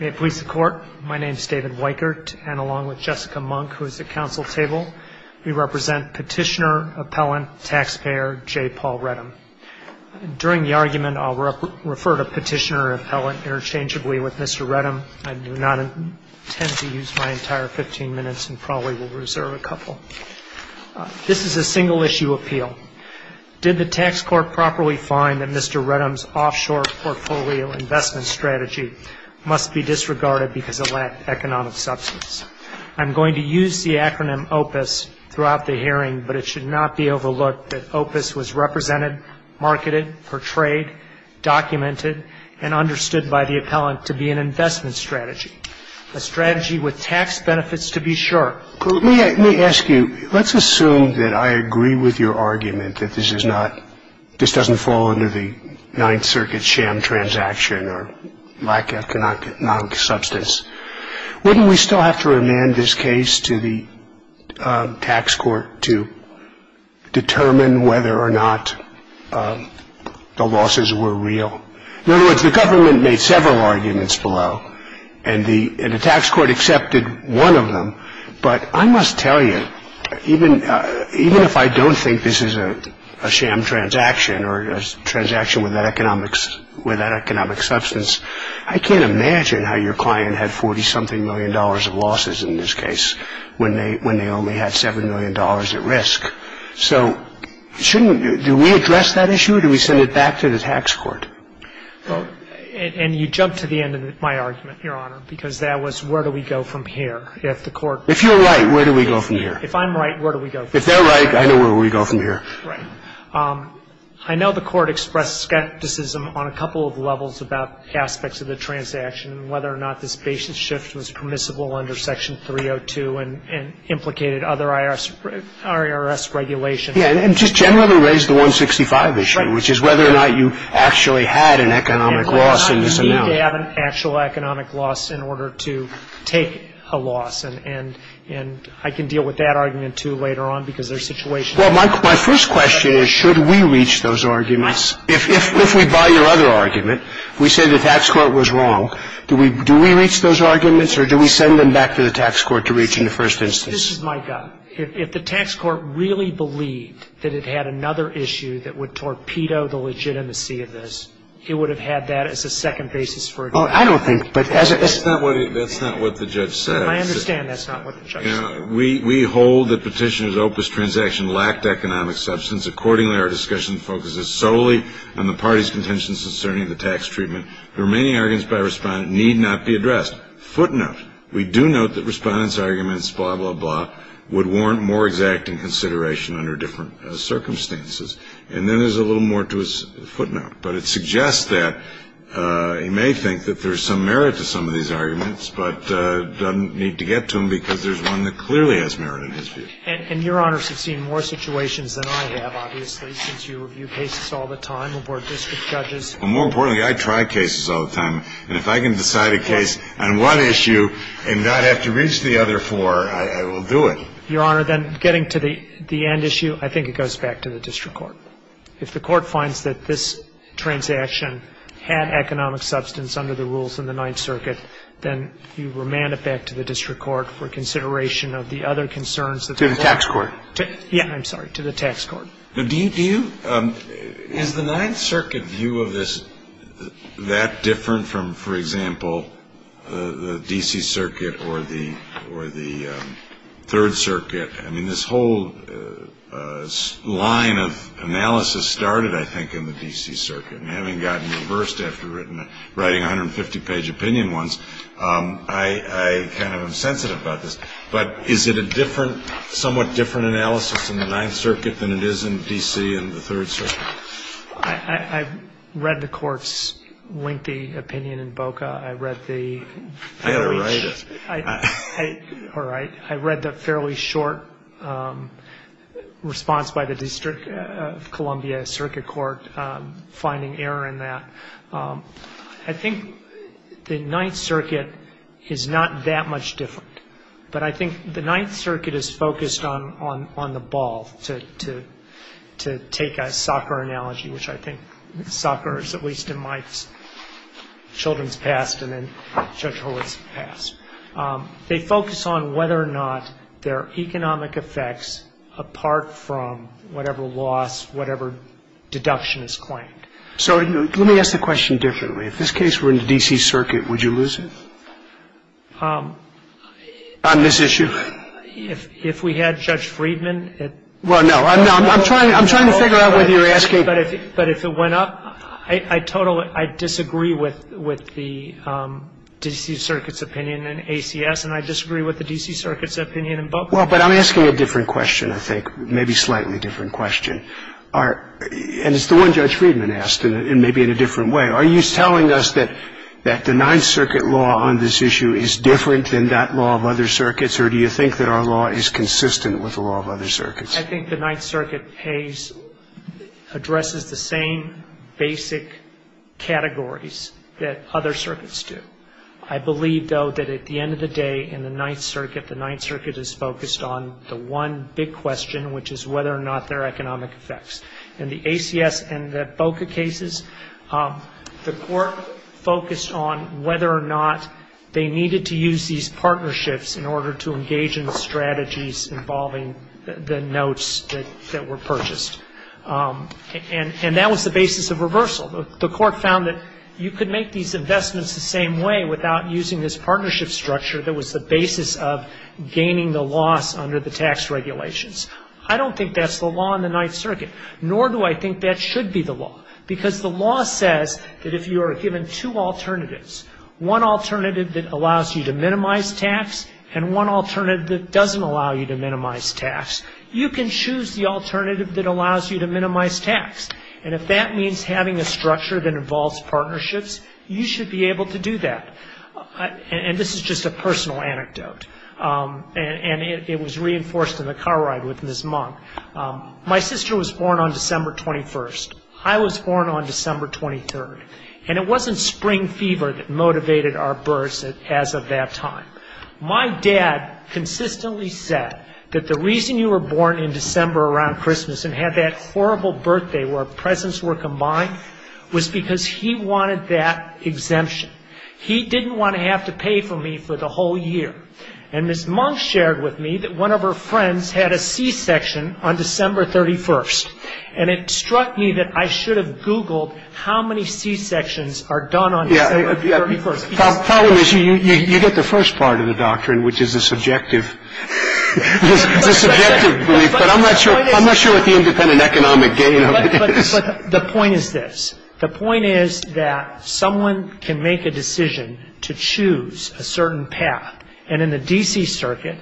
May it please the Court, my name is David Weikert, and along with Jessica Monk, who is at Council Table, we represent Petitioner, Appellant, Taxpayer, J. Paul Reddam. During the argument, I'll refer to Petitioner and Appellant interchangeably with Mr. Reddam. I do not intend to use my entire 15 minutes and probably will reserve a couple. This is a single-issue appeal. Did the Tax Court properly find that Mr. Reddam's offshore portfolio investment strategy must be disregarded because of lack of economic substance? I'm going to use the acronym OPUS throughout the hearing, but it should not be overlooked that OPUS was represented, marketed, portrayed, documented, and understood by the Appellant to be an investment strategy, a strategy with tax benefits to be sure. Let me ask you, let's assume that I agree with your argument that this is not, this doesn't fall under the Ninth Circuit sham transaction or lack of economic substance. Wouldn't we still have to remand this case to the Tax Court to determine whether or not the losses were real? In other words, the government made several arguments below, and the Tax Court accepted one of them. But I must tell you, even if I don't think this is a sham transaction or a transaction without economic substance, I can't imagine how your client had $40-something million of losses in this case when they only had $7 million at risk. So shouldn't, do we address that issue? Do we send it back to the Tax Court? Well, and you jumped to the end of my argument, Your Honor, because that was where do we go from here? If the Court — If you're right, where do we go from here? If I'm right, where do we go from here? If they're right, I know where we go from here. Right. I know the Court expressed skepticism on a couple of levels about aspects of the transaction and whether or not this basis shift was permissible under Section 302 and implicated other IRS regulations. Yeah. And just generally raised the 165 issue, which is whether or not you actually had an economic loss in this amount. You need to have an actual economic loss in order to take a loss. And I can deal with that argument, too, later on, because there are situations — Well, my first question is, should we reach those arguments? Yes. If we buy your other argument, we say the Tax Court was wrong, do we reach those arguments or do we send them back to the Tax Court to reach in the first instance? This is my gut. If the Tax Court really believed that it had another issue that would torpedo the legitimacy of this, it would have had that as a second basis for a judgment. Well, I don't think — That's not what the judge said. I understand that's not what the judge said. We hold that Petitioner's opus transaction lacked economic substance. Accordingly, our discussion focuses solely on the parties' contentions concerning the tax treatment. The remaining arguments by Respondent need not be addressed. Footnote, we do note that Respondent's arguments, blah, blah, blah, would warrant more exacting consideration under different circumstances. And then there's a little more to his footnote. But it suggests that he may think that there's some merit to some of these arguments, but doesn't need to get to them because there's one that clearly has merit in his view. And Your Honors have seen more situations than I have, obviously, since you review cases all the time aboard district judges. Well, more importantly, I try cases all the time. And if I can decide a case on one issue and not have to reach the other four, I will do it. Your Honor, then getting to the end issue, I think it goes back to the district court. If the court finds that this transaction had economic substance under the rules in the Ninth Circuit, then you remand it back to the district court for consideration of the other concerns to the tax court. Yeah, I'm sorry, to the tax court. Do you – is the Ninth Circuit view of this that different from, for example, the D.C. Circuit or the Third Circuit? I mean, this whole line of analysis started, I think, in the D.C. Circuit. And having gotten reversed after writing a 150-page opinion once, I kind of am sensitive about this. But is it a different, somewhat different analysis in the Ninth Circuit than it is in D.C. and the Third Circuit? I read the Court's lengthy opinion in BOCA. I read the fairly short response by the District of Columbia Circuit Court finding error in that. I think the Ninth Circuit is not that much different. But I think the Ninth Circuit is focused on the ball, to take a soccer analogy, which I think soccer is, at least in my children's past and in Judge Horowitz's past. They focus on whether or not there are economic effects apart from whatever loss, whatever deduction is claimed. So let me ask the question differently. If this case were in the D.C. Circuit, would you lose it? On this issue? If we had Judge Friedman at BOCA. Well, no. I'm trying to figure out whether you're asking. But if it went up, I totally disagree with the D.C. Circuit's opinion in ACS, and I disagree with the D.C. Circuit's opinion in BOCA. Well, but I'm asking a different question, I think, maybe slightly different question. And it's the one Judge Friedman asked, and maybe in a different way. Are you telling us that the Ninth Circuit law on this issue is different than that law of other circuits, or do you think that our law is consistent with the law of other circuits? I think the Ninth Circuit pays, addresses the same basic categories that other circuits do. I believe, though, that at the end of the day in the Ninth Circuit, the Ninth Circuit is focused on the one big question, which is whether or not there are economic effects. In the ACS and the BOCA cases, the court focused on whether or not they needed to use these partnerships in order to engage in the strategies involving the notes that were purchased. And that was the basis of reversal. The court found that you could make these investments the same way without using this partnership structure that was the basis of gaining the loss under the tax regulations. I don't think that's the law in the Ninth Circuit, nor do I think that should be the law, because the law says that if you are given two alternatives, one alternative that allows you to minimize tax and one alternative that doesn't allow you to minimize tax, you can choose the alternative that allows you to minimize tax. And if that means having a structure that involves partnerships, you should be able to do that. And this is just a personal anecdote, and it was reinforced in the car ride with Ms. Monk. My sister was born on December 21st. I was born on December 23rd. And it wasn't spring fever that motivated our births as of that time. My dad consistently said that the reason you were born in December around Christmas and had that horrible birthday where presents were combined was because he wanted that exemption. He didn't want to have to pay for me for the whole year. And Ms. Monk shared with me that one of her friends had a C-section on December 31st. And it struck me that I should have Googled how many C-sections are done on December 31st. The problem is you get the first part of the doctrine, which is a subjective belief, but I'm not sure what the independent economic gain of it is. But the point is this. The point is that someone can make a decision to choose a certain path. And in the D.C. Circuit,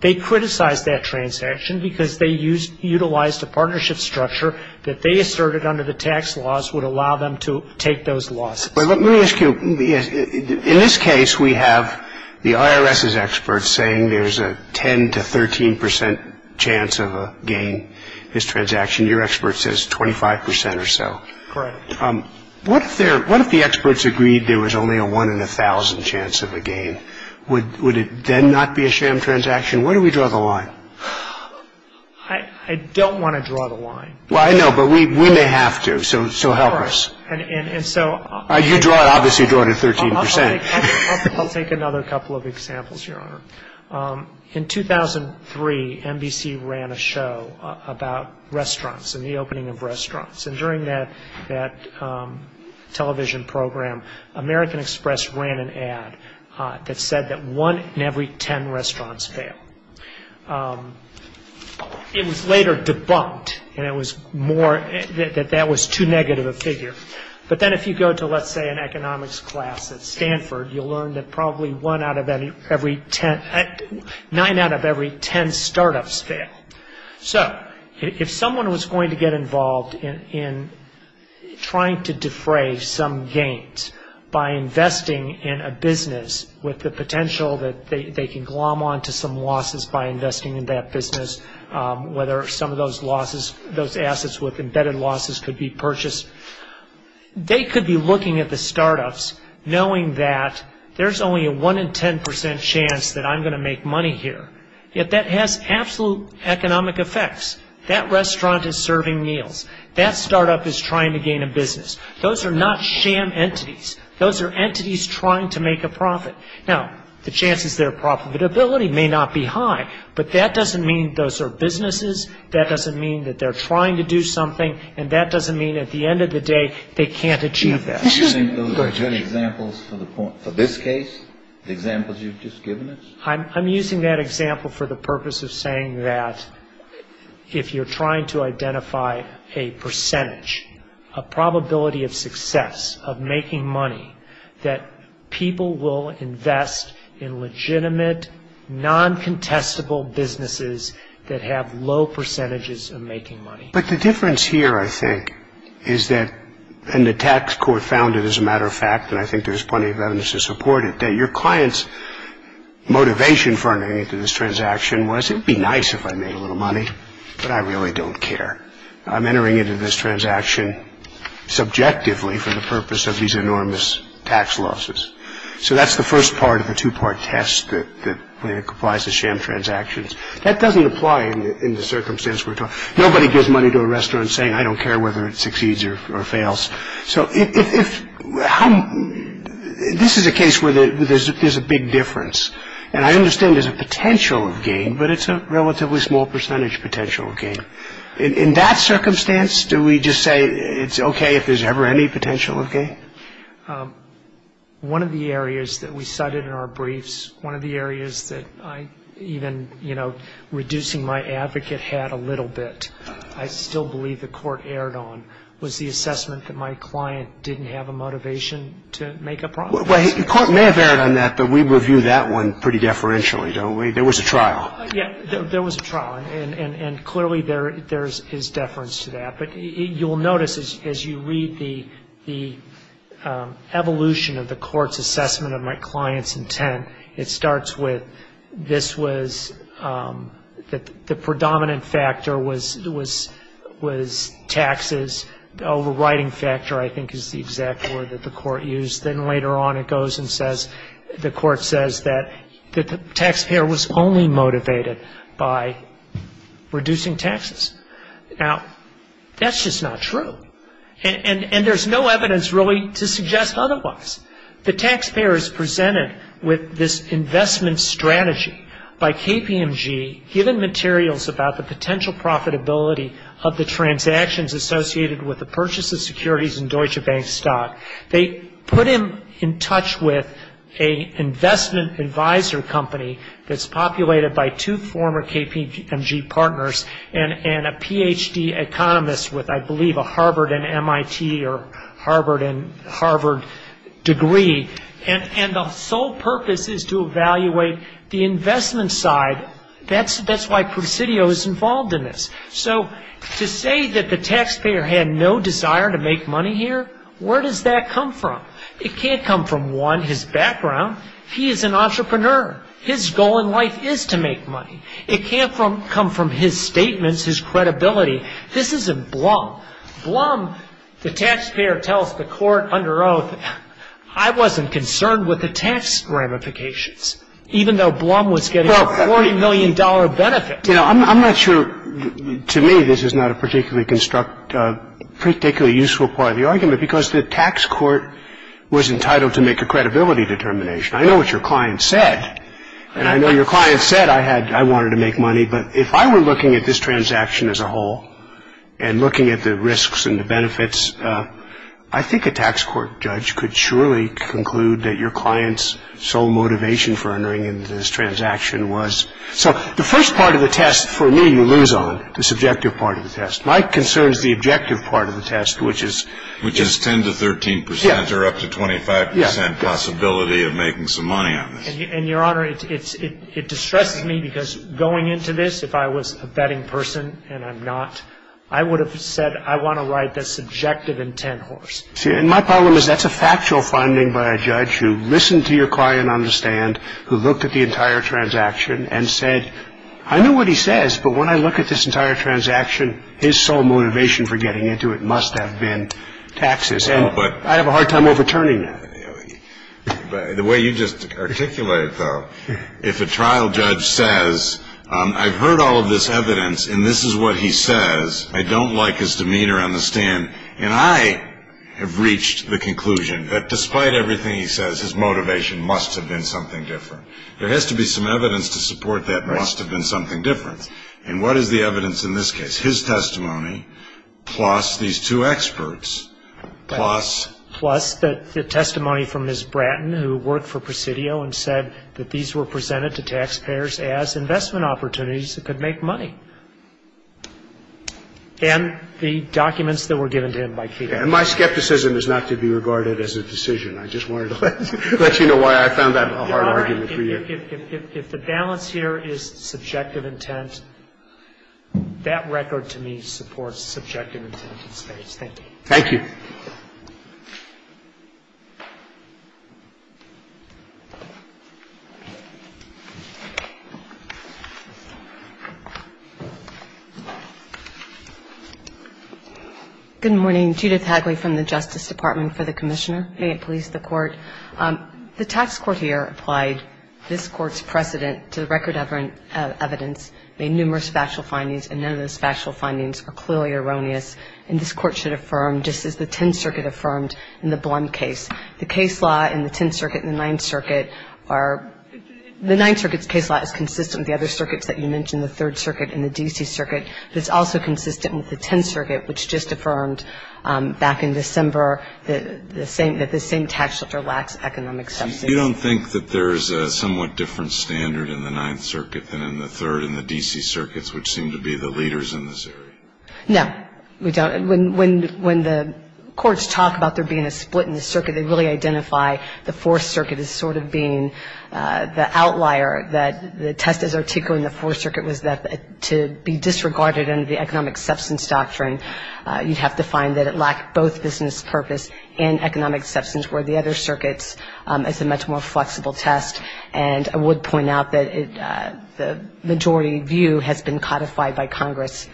they criticized that transaction because they utilized a partnership structure that they asserted under the tax laws would allow them to take those losses. Let me ask you. In this case, we have the IRS's experts saying there's a 10 to 13 percent chance of a gain, this transaction. Your expert says 25 percent or so. Correct. What if the experts agreed there was only a one in a thousand chance of a gain? Would it then not be a sham transaction? Where do we draw the line? I don't want to draw the line. Well, I know. But we may have to. So help us. All right. And so you draw it. Obviously, you draw it at 13 percent. I'll take another couple of examples, Your Honor. In 2003, NBC ran a show about restaurants and the opening of restaurants. And during that television program, American Express ran an ad that said that one in every 10 restaurants failed. It was later debunked, and it was more that that was too negative a figure. But then if you go to, let's say, an economics class at Stanford, you'll learn that probably nine out of every 10 startups fail. So if someone was going to get involved in trying to defray some gains by investing in a business with the potential that they can glom on to some losses by investing in that business, whether some of those losses, those assets with embedded losses could be purchased, they could be looking at the startups knowing that there's only a one in 10 percent chance that I'm going to make money here. Yet that has absolute economic effects. That restaurant is serving meals. That startup is trying to gain a business. Those are not sham entities. Those are entities trying to make a profit. Now, the chances they're profitability may not be high, but that doesn't mean those are businesses. That doesn't mean that they're trying to do something. And that doesn't mean at the end of the day they can't achieve that. Do you think those are good examples for this case, the examples you've just given us? I'm using that example for the purpose of saying that if you're trying to identify a percentage, a probability of success of making money, that people will invest in legitimate, non-contestable businesses that have low percentages of making money. But the difference here, I think, is that, and the tax court found it as a matter of fact, and I think there's plenty of evidence to support it, that your client's motivation for entering into this transaction was, it would be nice if I made a little money, but I really don't care. I'm entering into this transaction subjectively for the purpose of these enormous tax losses. So that's the first part of a two-part test that applies to sham transactions. That doesn't apply in the circumstance we're talking about. Nobody gives money to a restaurant saying, I don't care whether it succeeds or fails. So this is a case where there's a big difference. And I understand there's a potential of gain, but it's a relatively small percentage potential gain. In that circumstance, do we just say it's okay if there's ever any potential of gain? One of the areas that we cited in our briefs, one of the areas that I even, you know, reducing my advocate hat a little bit, I still believe the court erred on, was the assessment that my client didn't have a motivation to make a profit. Well, the court may have erred on that, but we review that one pretty deferentially, don't we? There was a trial. Yeah, there was a trial, and clearly there is deference to that. But you'll notice as you read the evolution of the court's assessment of my client's intent, it starts with this was the predominant factor was taxes. The overriding factor, I think, is the exact word that the court used. Then later on it goes and says the court says that the taxpayer was only motivated by reducing taxes. Now, that's just not true, and there's no evidence really to suggest otherwise. The taxpayer is presented with this investment strategy by KPMG, given materials about the potential profitability of the transactions associated with the purchase of securities and Deutsche Bank stock. They put him in touch with an investment advisor company that's populated by two former KPMG partners and a Ph.D. economist with, I believe, a Harvard and MIT or Harvard and Harvard degree, and the sole purpose is to evaluate the investment side. That's why Presidio is involved in this. So to say that the taxpayer had no desire to make money here, where does that come from? It can't come from, one, his background. He is an entrepreneur. His goal in life is to make money. It can't come from his statements, his credibility. This isn't Blum. Blum, the taxpayer tells the court under oath, I wasn't concerned with the tax ramifications, even though Blum was getting a $40 million benefit. I'm not sure, to me, this is not a particularly useful part of the argument because the tax court was entitled to make a credibility determination. I know what your client said, and I know your client said I wanted to make money, but if I were looking at this transaction as a whole and looking at the risks and the benefits, I think a tax court judge could surely conclude that your client's sole motivation for entering into this transaction was. So the first part of the test, for me, you lose on, the subjective part of the test. My concern is the objective part of the test, which is. Which is 10 to 13 percent or up to 25 percent possibility of making some money on this. And, Your Honor, it distresses me because going into this, if I was a betting person and I'm not, I would have said I want to ride the subjective intent horse. See, and my problem is that's a factual finding by a judge who listened to your client understand, who looked at the entire transaction and said, I know what he says, but when I look at this entire transaction, his sole motivation for getting into it must have been taxes. And I have a hard time overturning that. The way you just articulated, though, if a trial judge says, I've heard all of this evidence and this is what he says, I don't like his demeanor on the stand, and I have reached the conclusion that despite everything he says, his motivation must have been something different. There has to be some evidence to support that must have been something different. And what is the evidence in this case? His testimony, plus these two experts, plus. Plus the testimony from Ms. Bratton, who worked for Presidio and said that these were presented to taxpayers as investment opportunities that could make money. And the documents that were given to him by Kedah. And my skepticism is not to be regarded as a decision. I just wanted to let you know why I found that a hard argument for you. If the balance here is subjective intent, that record to me supports subjective intent in this case. Thank you. Judith Hagley. Good morning. Judith Hagley from the Justice Department for the Commissioner. May it please the Court. The tax court here applied this Court's precedent to the record of evidence, made numerous factual findings, and none of those factual findings are clearly erroneous. And this Court should affirm, just as the Tenth Circuit affirmed in the Blum case, the case law in the Tenth Circuit and the Ninth Circuit are, the Ninth Circuit's case law is consistent with the other circuits that you mentioned, the Third Circuit and the D.C. Circuit, but it's also consistent with the Tenth Circuit, which just affirmed back in December that the same tax shelter lacks economic subsidies. You don't think that there's a somewhat different standard in the Ninth Circuit than in the Third and the D.C. Circuits, which seem to be the leaders in this area? No. We don't. When the courts talk about there being a split in the circuit, they really identify the Fourth Circuit as sort of being the outlier, that the test as articulated in the Fourth Circuit was that to be disregarded under the economic substance doctrine, you'd have to find that it lacked both business purpose and economic substance, where the other circuits, it's a much more flexible test. And I would point out that the majority view has been codified by Congress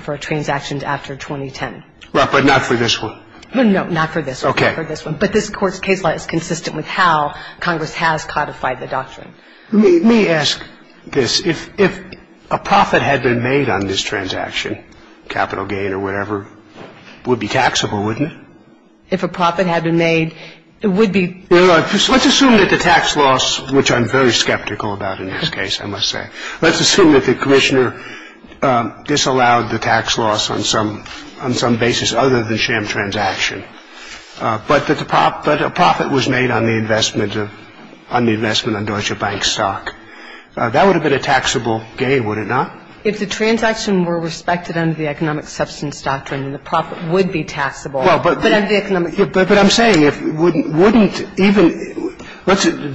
for transactions after 2010. But not for this one? No, not for this one. Okay. But this Court's case law is consistent with how Congress has codified the doctrine. Let me ask this. If a profit had been made on this transaction, capital gain or whatever, it would be taxable, wouldn't it? If a profit had been made, it would be. Let's assume that the tax loss, which I'm very skeptical about in this case, I must say. Let's assume that the commissioner disallowed the tax loss on some basis other than sham transaction, but a profit was made on the investment on Deutsche Bank stock. That would have been a taxable gain, would it not? If the transaction were respected under the economic substance doctrine, then the profit would be taxable. Well, but I'm saying if wouldn't even,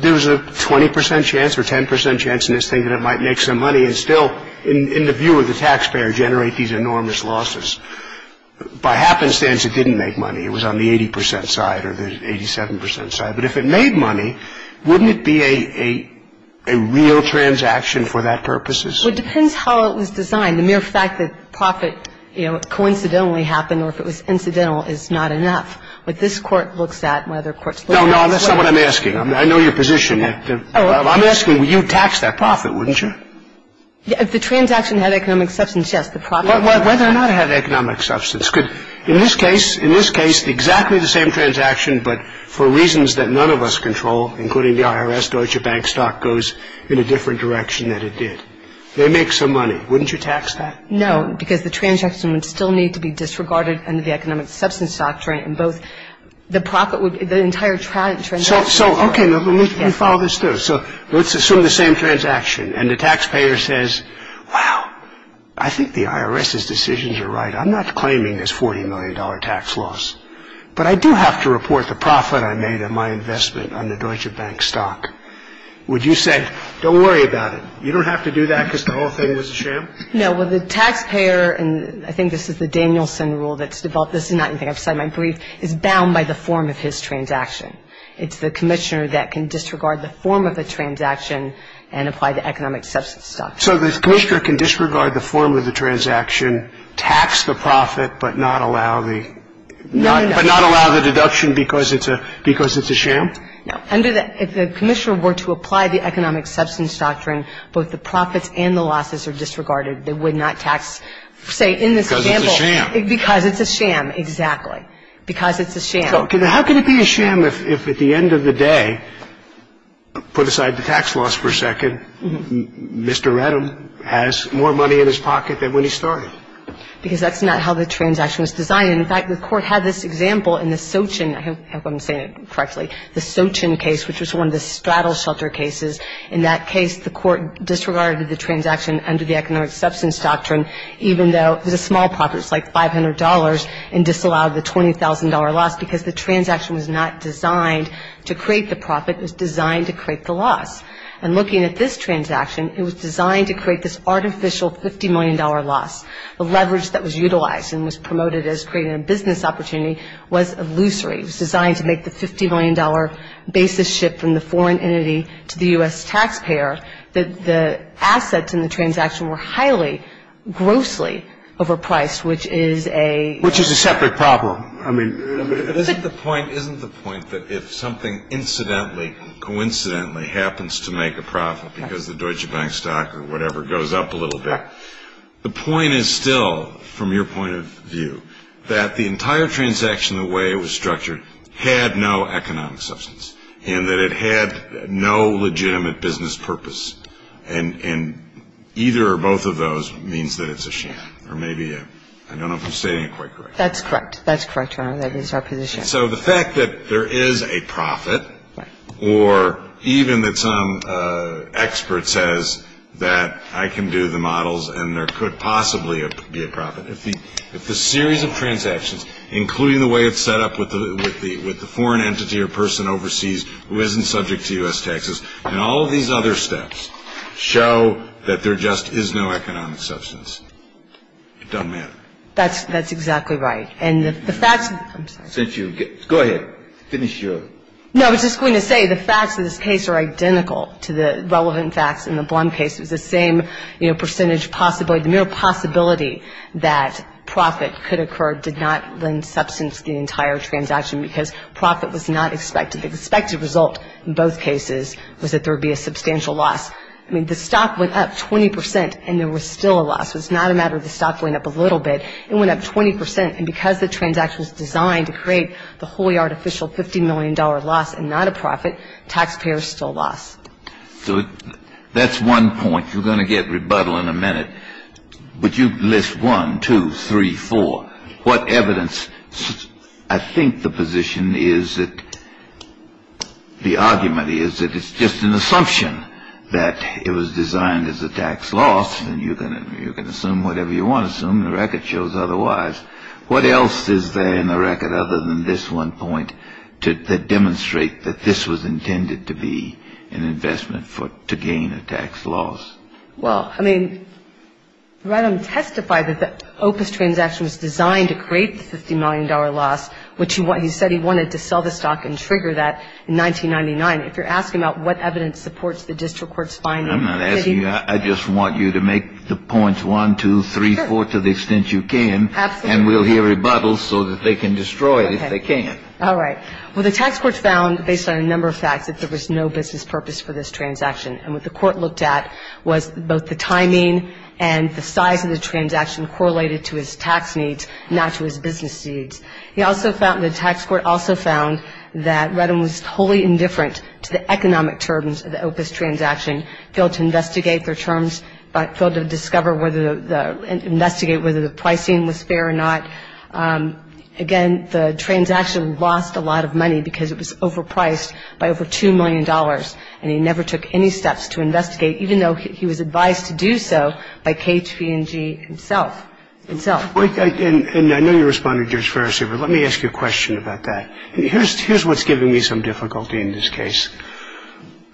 there's a 20 percent chance or 10 percent chance in this thing that it might make some money and still, in the view of the taxpayer, generate these enormous losses. By happenstance, it didn't make money. It was on the 80 percent side or the 87 percent side. But if it made money, wouldn't it be a real transaction for that purposes? Well, it depends how it was designed. The mere fact that profit coincidentally happened or if it was incidental is not enough. What this court looks at and what other courts look at. No, no, that's not what I'm asking. I know your position. I'm asking, would you tax that profit, wouldn't you? If the transaction had economic substance, yes, the profit. Whether or not it had economic substance. In this case, exactly the same transaction, but for reasons that none of us control, including the IRS, Deutsche Bank stock goes in a different direction than it did. They make some money. Wouldn't you tax that? No, because the transaction would still need to be disregarded under the economic substance doctrine. And both the profit would, the entire transaction. So, okay, let me follow this through. So let's assume the same transaction. And the taxpayer says, wow, I think the IRS's decisions are right. I'm not claiming this $40 million tax loss. But I do have to report the profit I made on my investment on the Deutsche Bank stock. Would you say, don't worry about it. You don't have to do that because the whole thing was a sham? No, well, the taxpayer, and I think this is the Danielson rule that's developed. This is not anything outside my brief. It's bound by the form of his transaction. It's the commissioner that can disregard the form of the transaction and apply the economic substance doctrine. So the commissioner can disregard the form of the transaction, tax the profit, but not allow the... No, no, no. But not allow the deduction because it's a sham? No. If the commissioner were to apply the economic substance doctrine, both the profits and the losses are disregarded. They would not tax, say, in this example... Because it's a sham. Because it's a sham. Exactly. Because it's a sham. How can it be a sham if at the end of the day, put aside the tax loss for a second, Mr. Redham has more money in his pocket than when he started? Because that's not how the transaction was designed. In fact, the Court had this example in the Sochin... I hope I'm saying it correctly. The Sochin case, which was one of the straddle shelter cases, in that case the Court disregarded the transaction under the economic substance doctrine even though it was a small profit. It was like $500 and disallowed the $20,000 loss because the transaction was not designed to create the profit. It was designed to create the loss. And looking at this transaction, it was designed to create this artificial $50 million loss. The leverage that was utilized and was promoted as creating a business opportunity was illusory. It was designed to make the $50 million basis ship from the foreign entity to the U.S. taxpayer. The assets in the transaction were highly, grossly overpriced, which is a... Which is a separate problem. I mean... But isn't the point that if something incidentally, coincidentally happens to make a profit because the Deutsche Bank stock or whatever goes up a little bit, the point is still, from your point of view, that the entire transaction the way it was structured had no economic substance and that it had no legitimate business purpose. And either or both of those means that it's a sham. Or maybe a... I don't know if I'm stating it quite correctly. That's correct. That's correct, Your Honor. That is our position. So the fact that there is a profit... Right. Or even that some expert says that I can do the models and there could possibly be a profit. If the series of transactions, including the way it's set up with the foreign entity or person overseas who isn't subject to U.S. taxes and all of these other steps show that there just is no economic substance, it doesn't matter. That's exactly right. And the fact... Go ahead. Finish your... No, I was just going to say the facts of this case are identical to the relevant facts in the Blum case. It was the same percentage possibility. The mere possibility that profit could occur did not lend substance to the entire transaction because profit was not expected. The expected result in both cases was that there would be a substantial loss. I mean, the stock went up 20 percent and there was still a loss. It was not a matter of the stock going up a little bit. It went up 20 percent. And because the transaction was designed to create the wholly artificial $50 million loss and not a profit, taxpayers still lost. So that's one point. You're going to get rebuttal in a minute. But you list one, two, three, four. What evidence... I think the position is that... the argument is that it's just an assumption that it was designed as a tax loss. And you can assume whatever you want to assume. The record shows otherwise. What else is there in the record other than this one point to demonstrate that this was intended to be an investment to gain a tax loss? Well, I mean, Redham testified that the Opus transaction was designed to create the $50 million loss, which he said he wanted to sell the stock and trigger that in 1999. If you're asking about what evidence supports the district court's finding... I'm not asking you. I just want you to make the points, one, two, three, four, to the extent you can. Absolutely. And we'll hear rebuttals so that they can destroy it if they can. All right. Well, the tax court found, based on a number of facts, that there was no business purpose for this transaction. And what the court looked at was both the timing and the size of the transaction correlated to his tax needs, not to his business needs. The tax court also found that Redham was wholly indifferent to the economic terms of the Opus transaction, failed to investigate their terms, but failed to discover whether the pricing was fair or not. Again, the transaction lost a lot of money because it was overpriced by over $2 million, and he never took any steps to investigate, even though he was advised to do so by KHPNG himself. And I know you're responding to Judge Ferris here, but let me ask you a question about that. Here's what's giving me some difficulty in this case.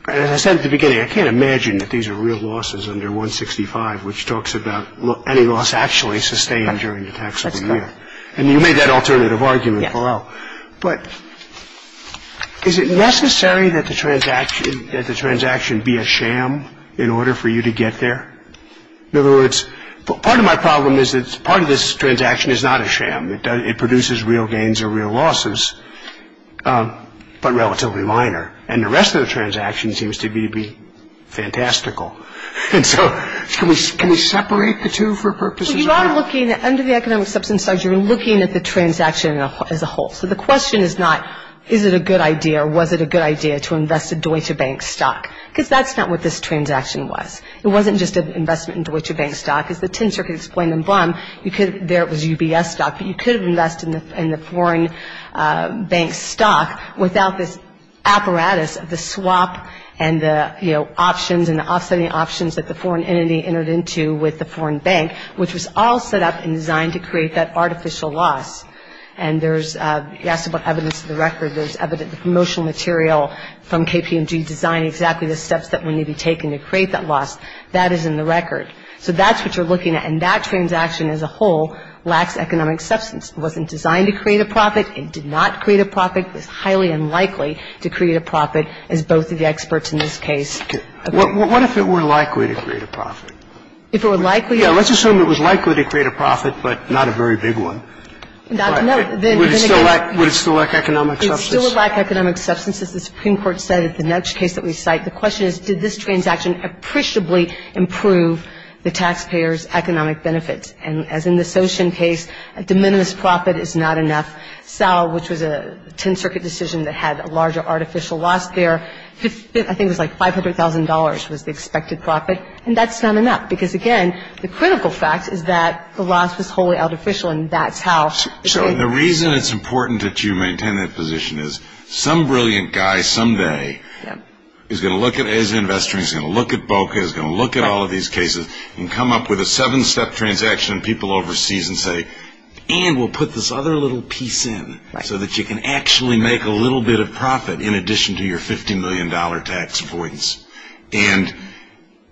As I said at the beginning, I can't imagine that these are real losses under 165, which talks about any loss actually sustained during the taxable year. That's correct. And you made that alternative argument below. Yes. But is it necessary that the transaction be a sham in order for you to get there? In other words, part of my problem is that part of this transaction is not a sham. It produces real gains or real losses, but relatively minor. And the rest of the transaction seems to me to be fantastical. And so can we separate the two for purposes of that? Well, you are looking at under the economic substance side, you're looking at the transaction as a whole. So the question is not is it a good idea or was it a good idea to invest a Deutsche Bank stock, because that's not what this transaction was. It wasn't just an investment in Deutsche Bank stock. As the tin circuit explained in Blum, there it was UBS stock, but you could have invested in the foreign bank stock without this apparatus of the swap and the options and the offsetting options that the foreign entity entered into with the foreign bank, which was all set up and designed to create that artificial loss. And there's evidence to the record, there's promotional material from KPMG that was used to design exactly the steps that would need to be taken to create that loss. That is in the record. So that's what you're looking at. And that transaction as a whole lacks economic substance. It wasn't designed to create a profit. It did not create a profit. It was highly unlikely to create a profit, as both of the experts in this case agree. What if it were likely to create a profit? If it were likely? Yes. Let's assume it was likely to create a profit, but not a very big one. Would it still lack economic substance? It still would lack economic substance. As the Supreme Court said at the next case that we cite, the question is did this transaction appreciably improve the taxpayer's economic benefits. And as in the Soshen case, a de minimis profit is not enough. Sal, which was a 10-circuit decision that had a larger artificial loss there, I think it was like $500,000 was the expected profit, and that's not enough. Because, again, the critical fact is that the loss was wholly artificial, and that's how. So the reason it's important that you maintain that position is some brilliant guy someday is going to look at it as an investor. He's going to look at BOCA. He's going to look at all of these cases and come up with a seven-step transaction, and people overseas will say, and we'll put this other little piece in, so that you can actually make a little bit of profit in addition to your $50 million tax avoidance. And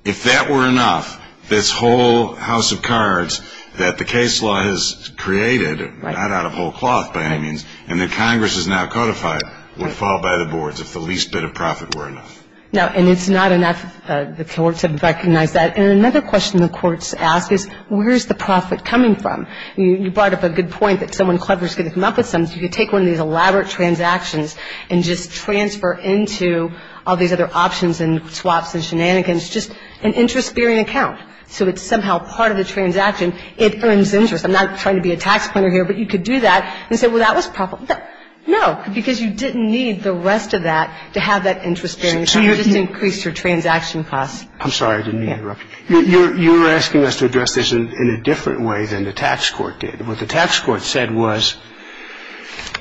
if that were enough, this whole house of cards that the case law has created, not out of whole cloth by any means, and that Congress has now codified, would fall by the boards if the least bit of profit were enough. No, and it's not enough. The courts have recognized that. And another question the courts ask is where is the profit coming from? You brought up a good point that someone clever is going to come up with something. You could take one of these elaborate transactions and just transfer into all these other options and swaps and shenanigans just an interest-bearing account. So it's somehow part of the transaction. It earns interest. I'm not trying to be a tax planner here, but you could do that and say, well, that was profitable. No, because you didn't need the rest of that to have that interest-bearing account. You just increased your transaction costs. I'm sorry. I didn't mean to interrupt you. You were asking us to address this in a different way than the tax court did. What the tax court said was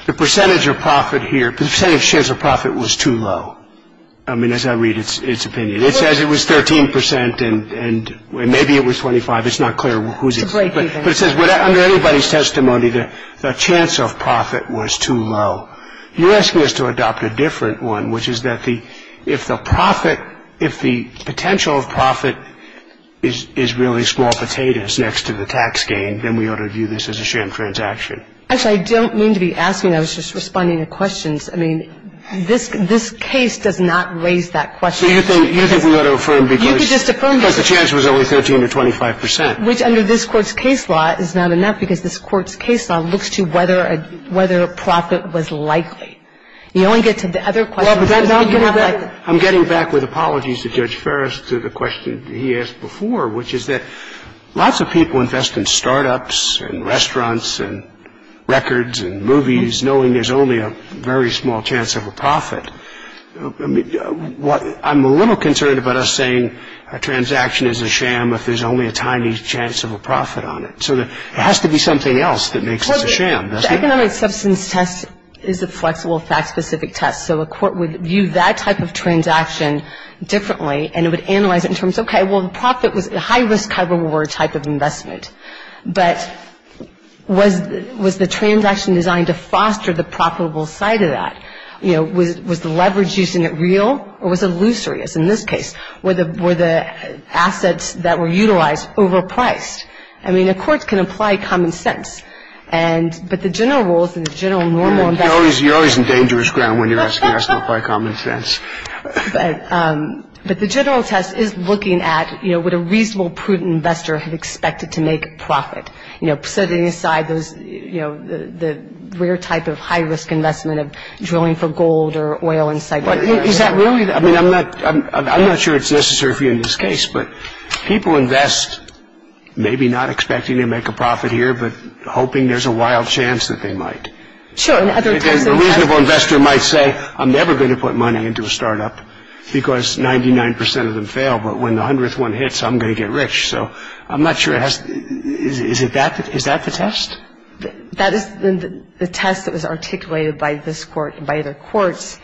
the percentage of profit here, the percentage of shares of profit was too low. I mean, as I read its opinion. It says it was 13 percent and maybe it was 25. It's not clear whose it is. But it says under everybody's testimony, the chance of profit was too low. You're asking us to adopt a different one, which is that if the profit, if the potential of profit is really small potatoes next to the tax gain, then we ought to view this as a sham transaction. Actually, I don't mean to be asking. I was just responding to questions. I mean, this case does not raise that question. You think we ought to affirm because the chance was only 13 to 25 percent. Which under this Court's case law is not enough because this Court's case law looks to whether profit was likely. You only get to the other questions. I'm getting back with apologies to Judge Ferris to the question he asked before, which is that lots of people invest in start-ups and restaurants and records and movies, knowing there's only a very small chance of a profit. I'm a little concerned about us saying a transaction is a sham if there's only a tiny chance of a profit on it. So there has to be something else that makes it a sham, doesn't it? Well, the economic substance test is a flexible fact-specific test. So a court would view that type of transaction differently, and it would analyze it in terms of, okay, well, the profit was a high-risk, high-reward type of investment. But was the transaction designed to foster the profitable side of that? You know, was the leverage used in it real or was it illusory, as in this case? Were the assets that were utilized overpriced? I mean, a court can apply common sense. But the general rules and the general normal investment. You're always in dangerous ground when you're asking us to apply common sense. But the general test is looking at, you know, would a reasonable, prudent investor have expected to make a profit? You know, setting aside those, you know, the rare type of high-risk investment of drilling for gold or oil and cyber. Is that really? I mean, I'm not sure it's necessary for you in this case, but people invest maybe not expecting to make a profit here but hoping there's a wild chance that they might. Sure. A reasonable investor might say, I'm never going to put money into a startup because 99 percent of them fail. But when the hundredth one hits, I'm going to get rich. So I'm not sure. Is that the test? That is the test that was articulated by this court and by other courts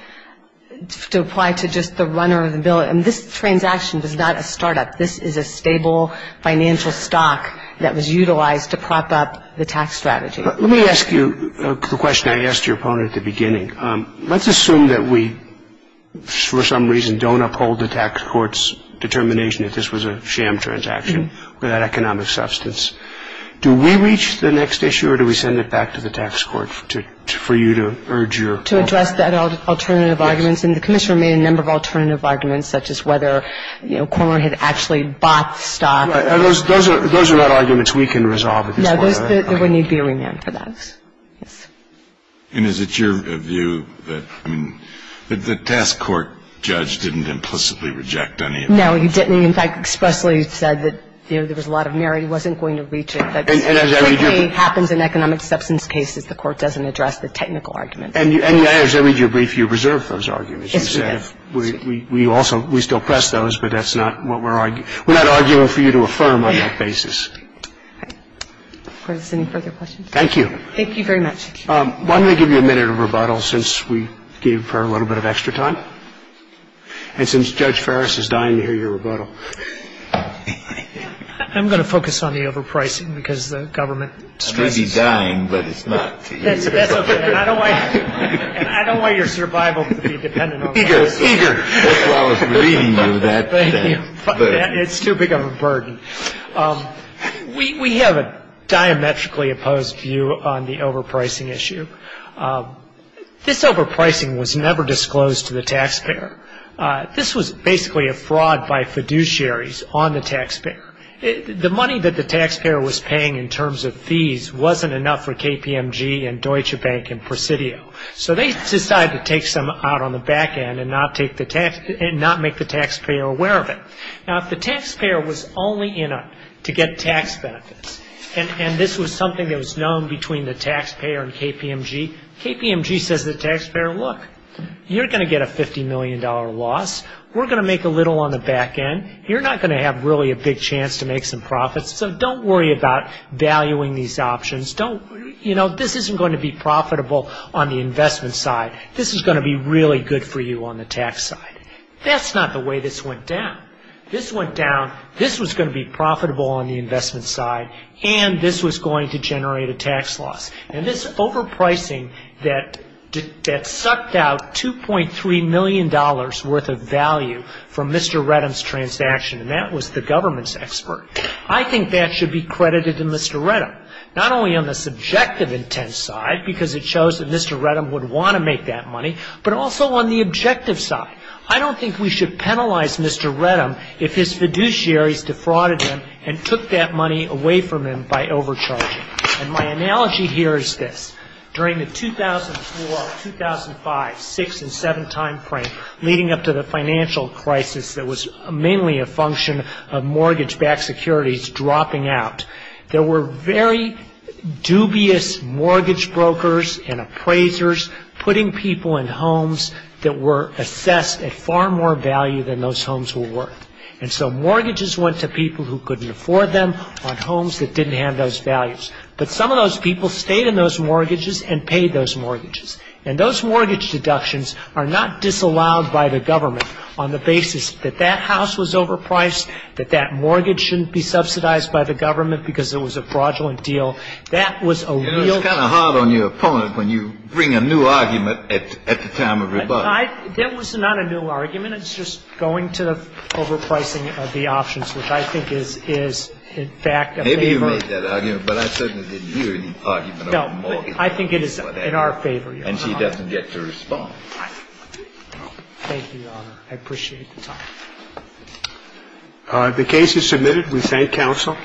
to apply to just the runner of the bill. And this transaction was not a startup. This is a stable financial stock that was utilized to prop up the tax strategy. Let me ask you the question I asked your opponent at the beginning. Let's assume that we, for some reason, don't uphold the tax court's determination that this was a sham transaction without economic substance. Do we reach the next issue or do we send it back to the tax court for you to urge your. To address that alternative arguments. And the commissioner made a number of alternative arguments, such as whether, you know, Cormer had actually bought the stock. Those are not arguments we can resolve at this point. There would need to be a remand for those. And is it your view that the task court judge didn't implicitly reject any. No, he didn't. In fact, expressly said that there was a lot of merit. He wasn't going to reach it. That happens in economic substance cases. The court doesn't address the technical argument. And as I read your brief, you reserve those arguments. We also we still press those, but that's not what we're arguing. We're not arguing for you to affirm on that basis. All right. If there's any further questions. Thank you. Thank you very much. Why don't we give you a minute of rebuttal since we gave her a little bit of extra time. And since Judge Ferris is dying, you hear your rebuttal. I'm going to focus on the overpricing because the government. I may be dying, but it's not. And I don't want your survival to be dependent on. Eager. Eager. Thank you. It's too big of a burden. We have a diametrically opposed view on the overpricing issue. This overpricing was never disclosed to the taxpayer. This was basically a fraud by fiduciaries on the taxpayer. The money that the taxpayer was paying in terms of fees wasn't enough for KPMG and Deutsche Bank and Presidio. So they decided to take some out on the back end and not make the taxpayer aware of it. Now, if the taxpayer was only in it to get tax benefits, and this was something that was known between the taxpayer and KPMG, KPMG says to the taxpayer, look, you're going to get a $50 million loss. We're going to make a little on the back end. You're not going to have really a big chance to make some profits, so don't worry about valuing these options. You know, this isn't going to be profitable on the investment side. This is going to be really good for you on the tax side. That's not the way this went down. This went down, this was going to be profitable on the investment side, and this was going to generate a tax loss. And this overpricing that sucked out $2.3 million worth of value from Mr. Reddam's transaction, and that was the government's expert, I think that should be credited to Mr. Reddam, not only on the subjective intent side, because it shows that Mr. Reddam would want to make that money, but also on the objective side. I don't think we should penalize Mr. Reddam if his fiduciaries defrauded him and took that money away from him by overcharging. And my analogy here is this. During the 2004, 2005, 6 and 7 timeframe, leading up to the financial crisis that was mainly a function of mortgage-backed securities dropping out, there were very dubious mortgage brokers and appraisers putting people in homes that were assessed at far more value than those homes were worth. And so mortgages went to people who couldn't afford them on homes that didn't have those values. But some of those people stayed in those mortgages and paid those mortgages. And those mortgage deductions are not disallowed by the government on the basis that that house was overpriced, that that mortgage shouldn't be subsidized by the government because it was a fraudulent deal. That was a real thing. It was kind of hard on your opponent when you bring a new argument at the time of rebuttal. That was not a new argument. It's just going to overpricing of the options, which I think is in fact a favor. Maybe you made that argument, but I certainly didn't hear any argument over mortgages. No. I think it is in our favor, Your Honor. And she doesn't get to respond. Thank you, Your Honor. I appreciate the time. The case is submitted. We thank counsel.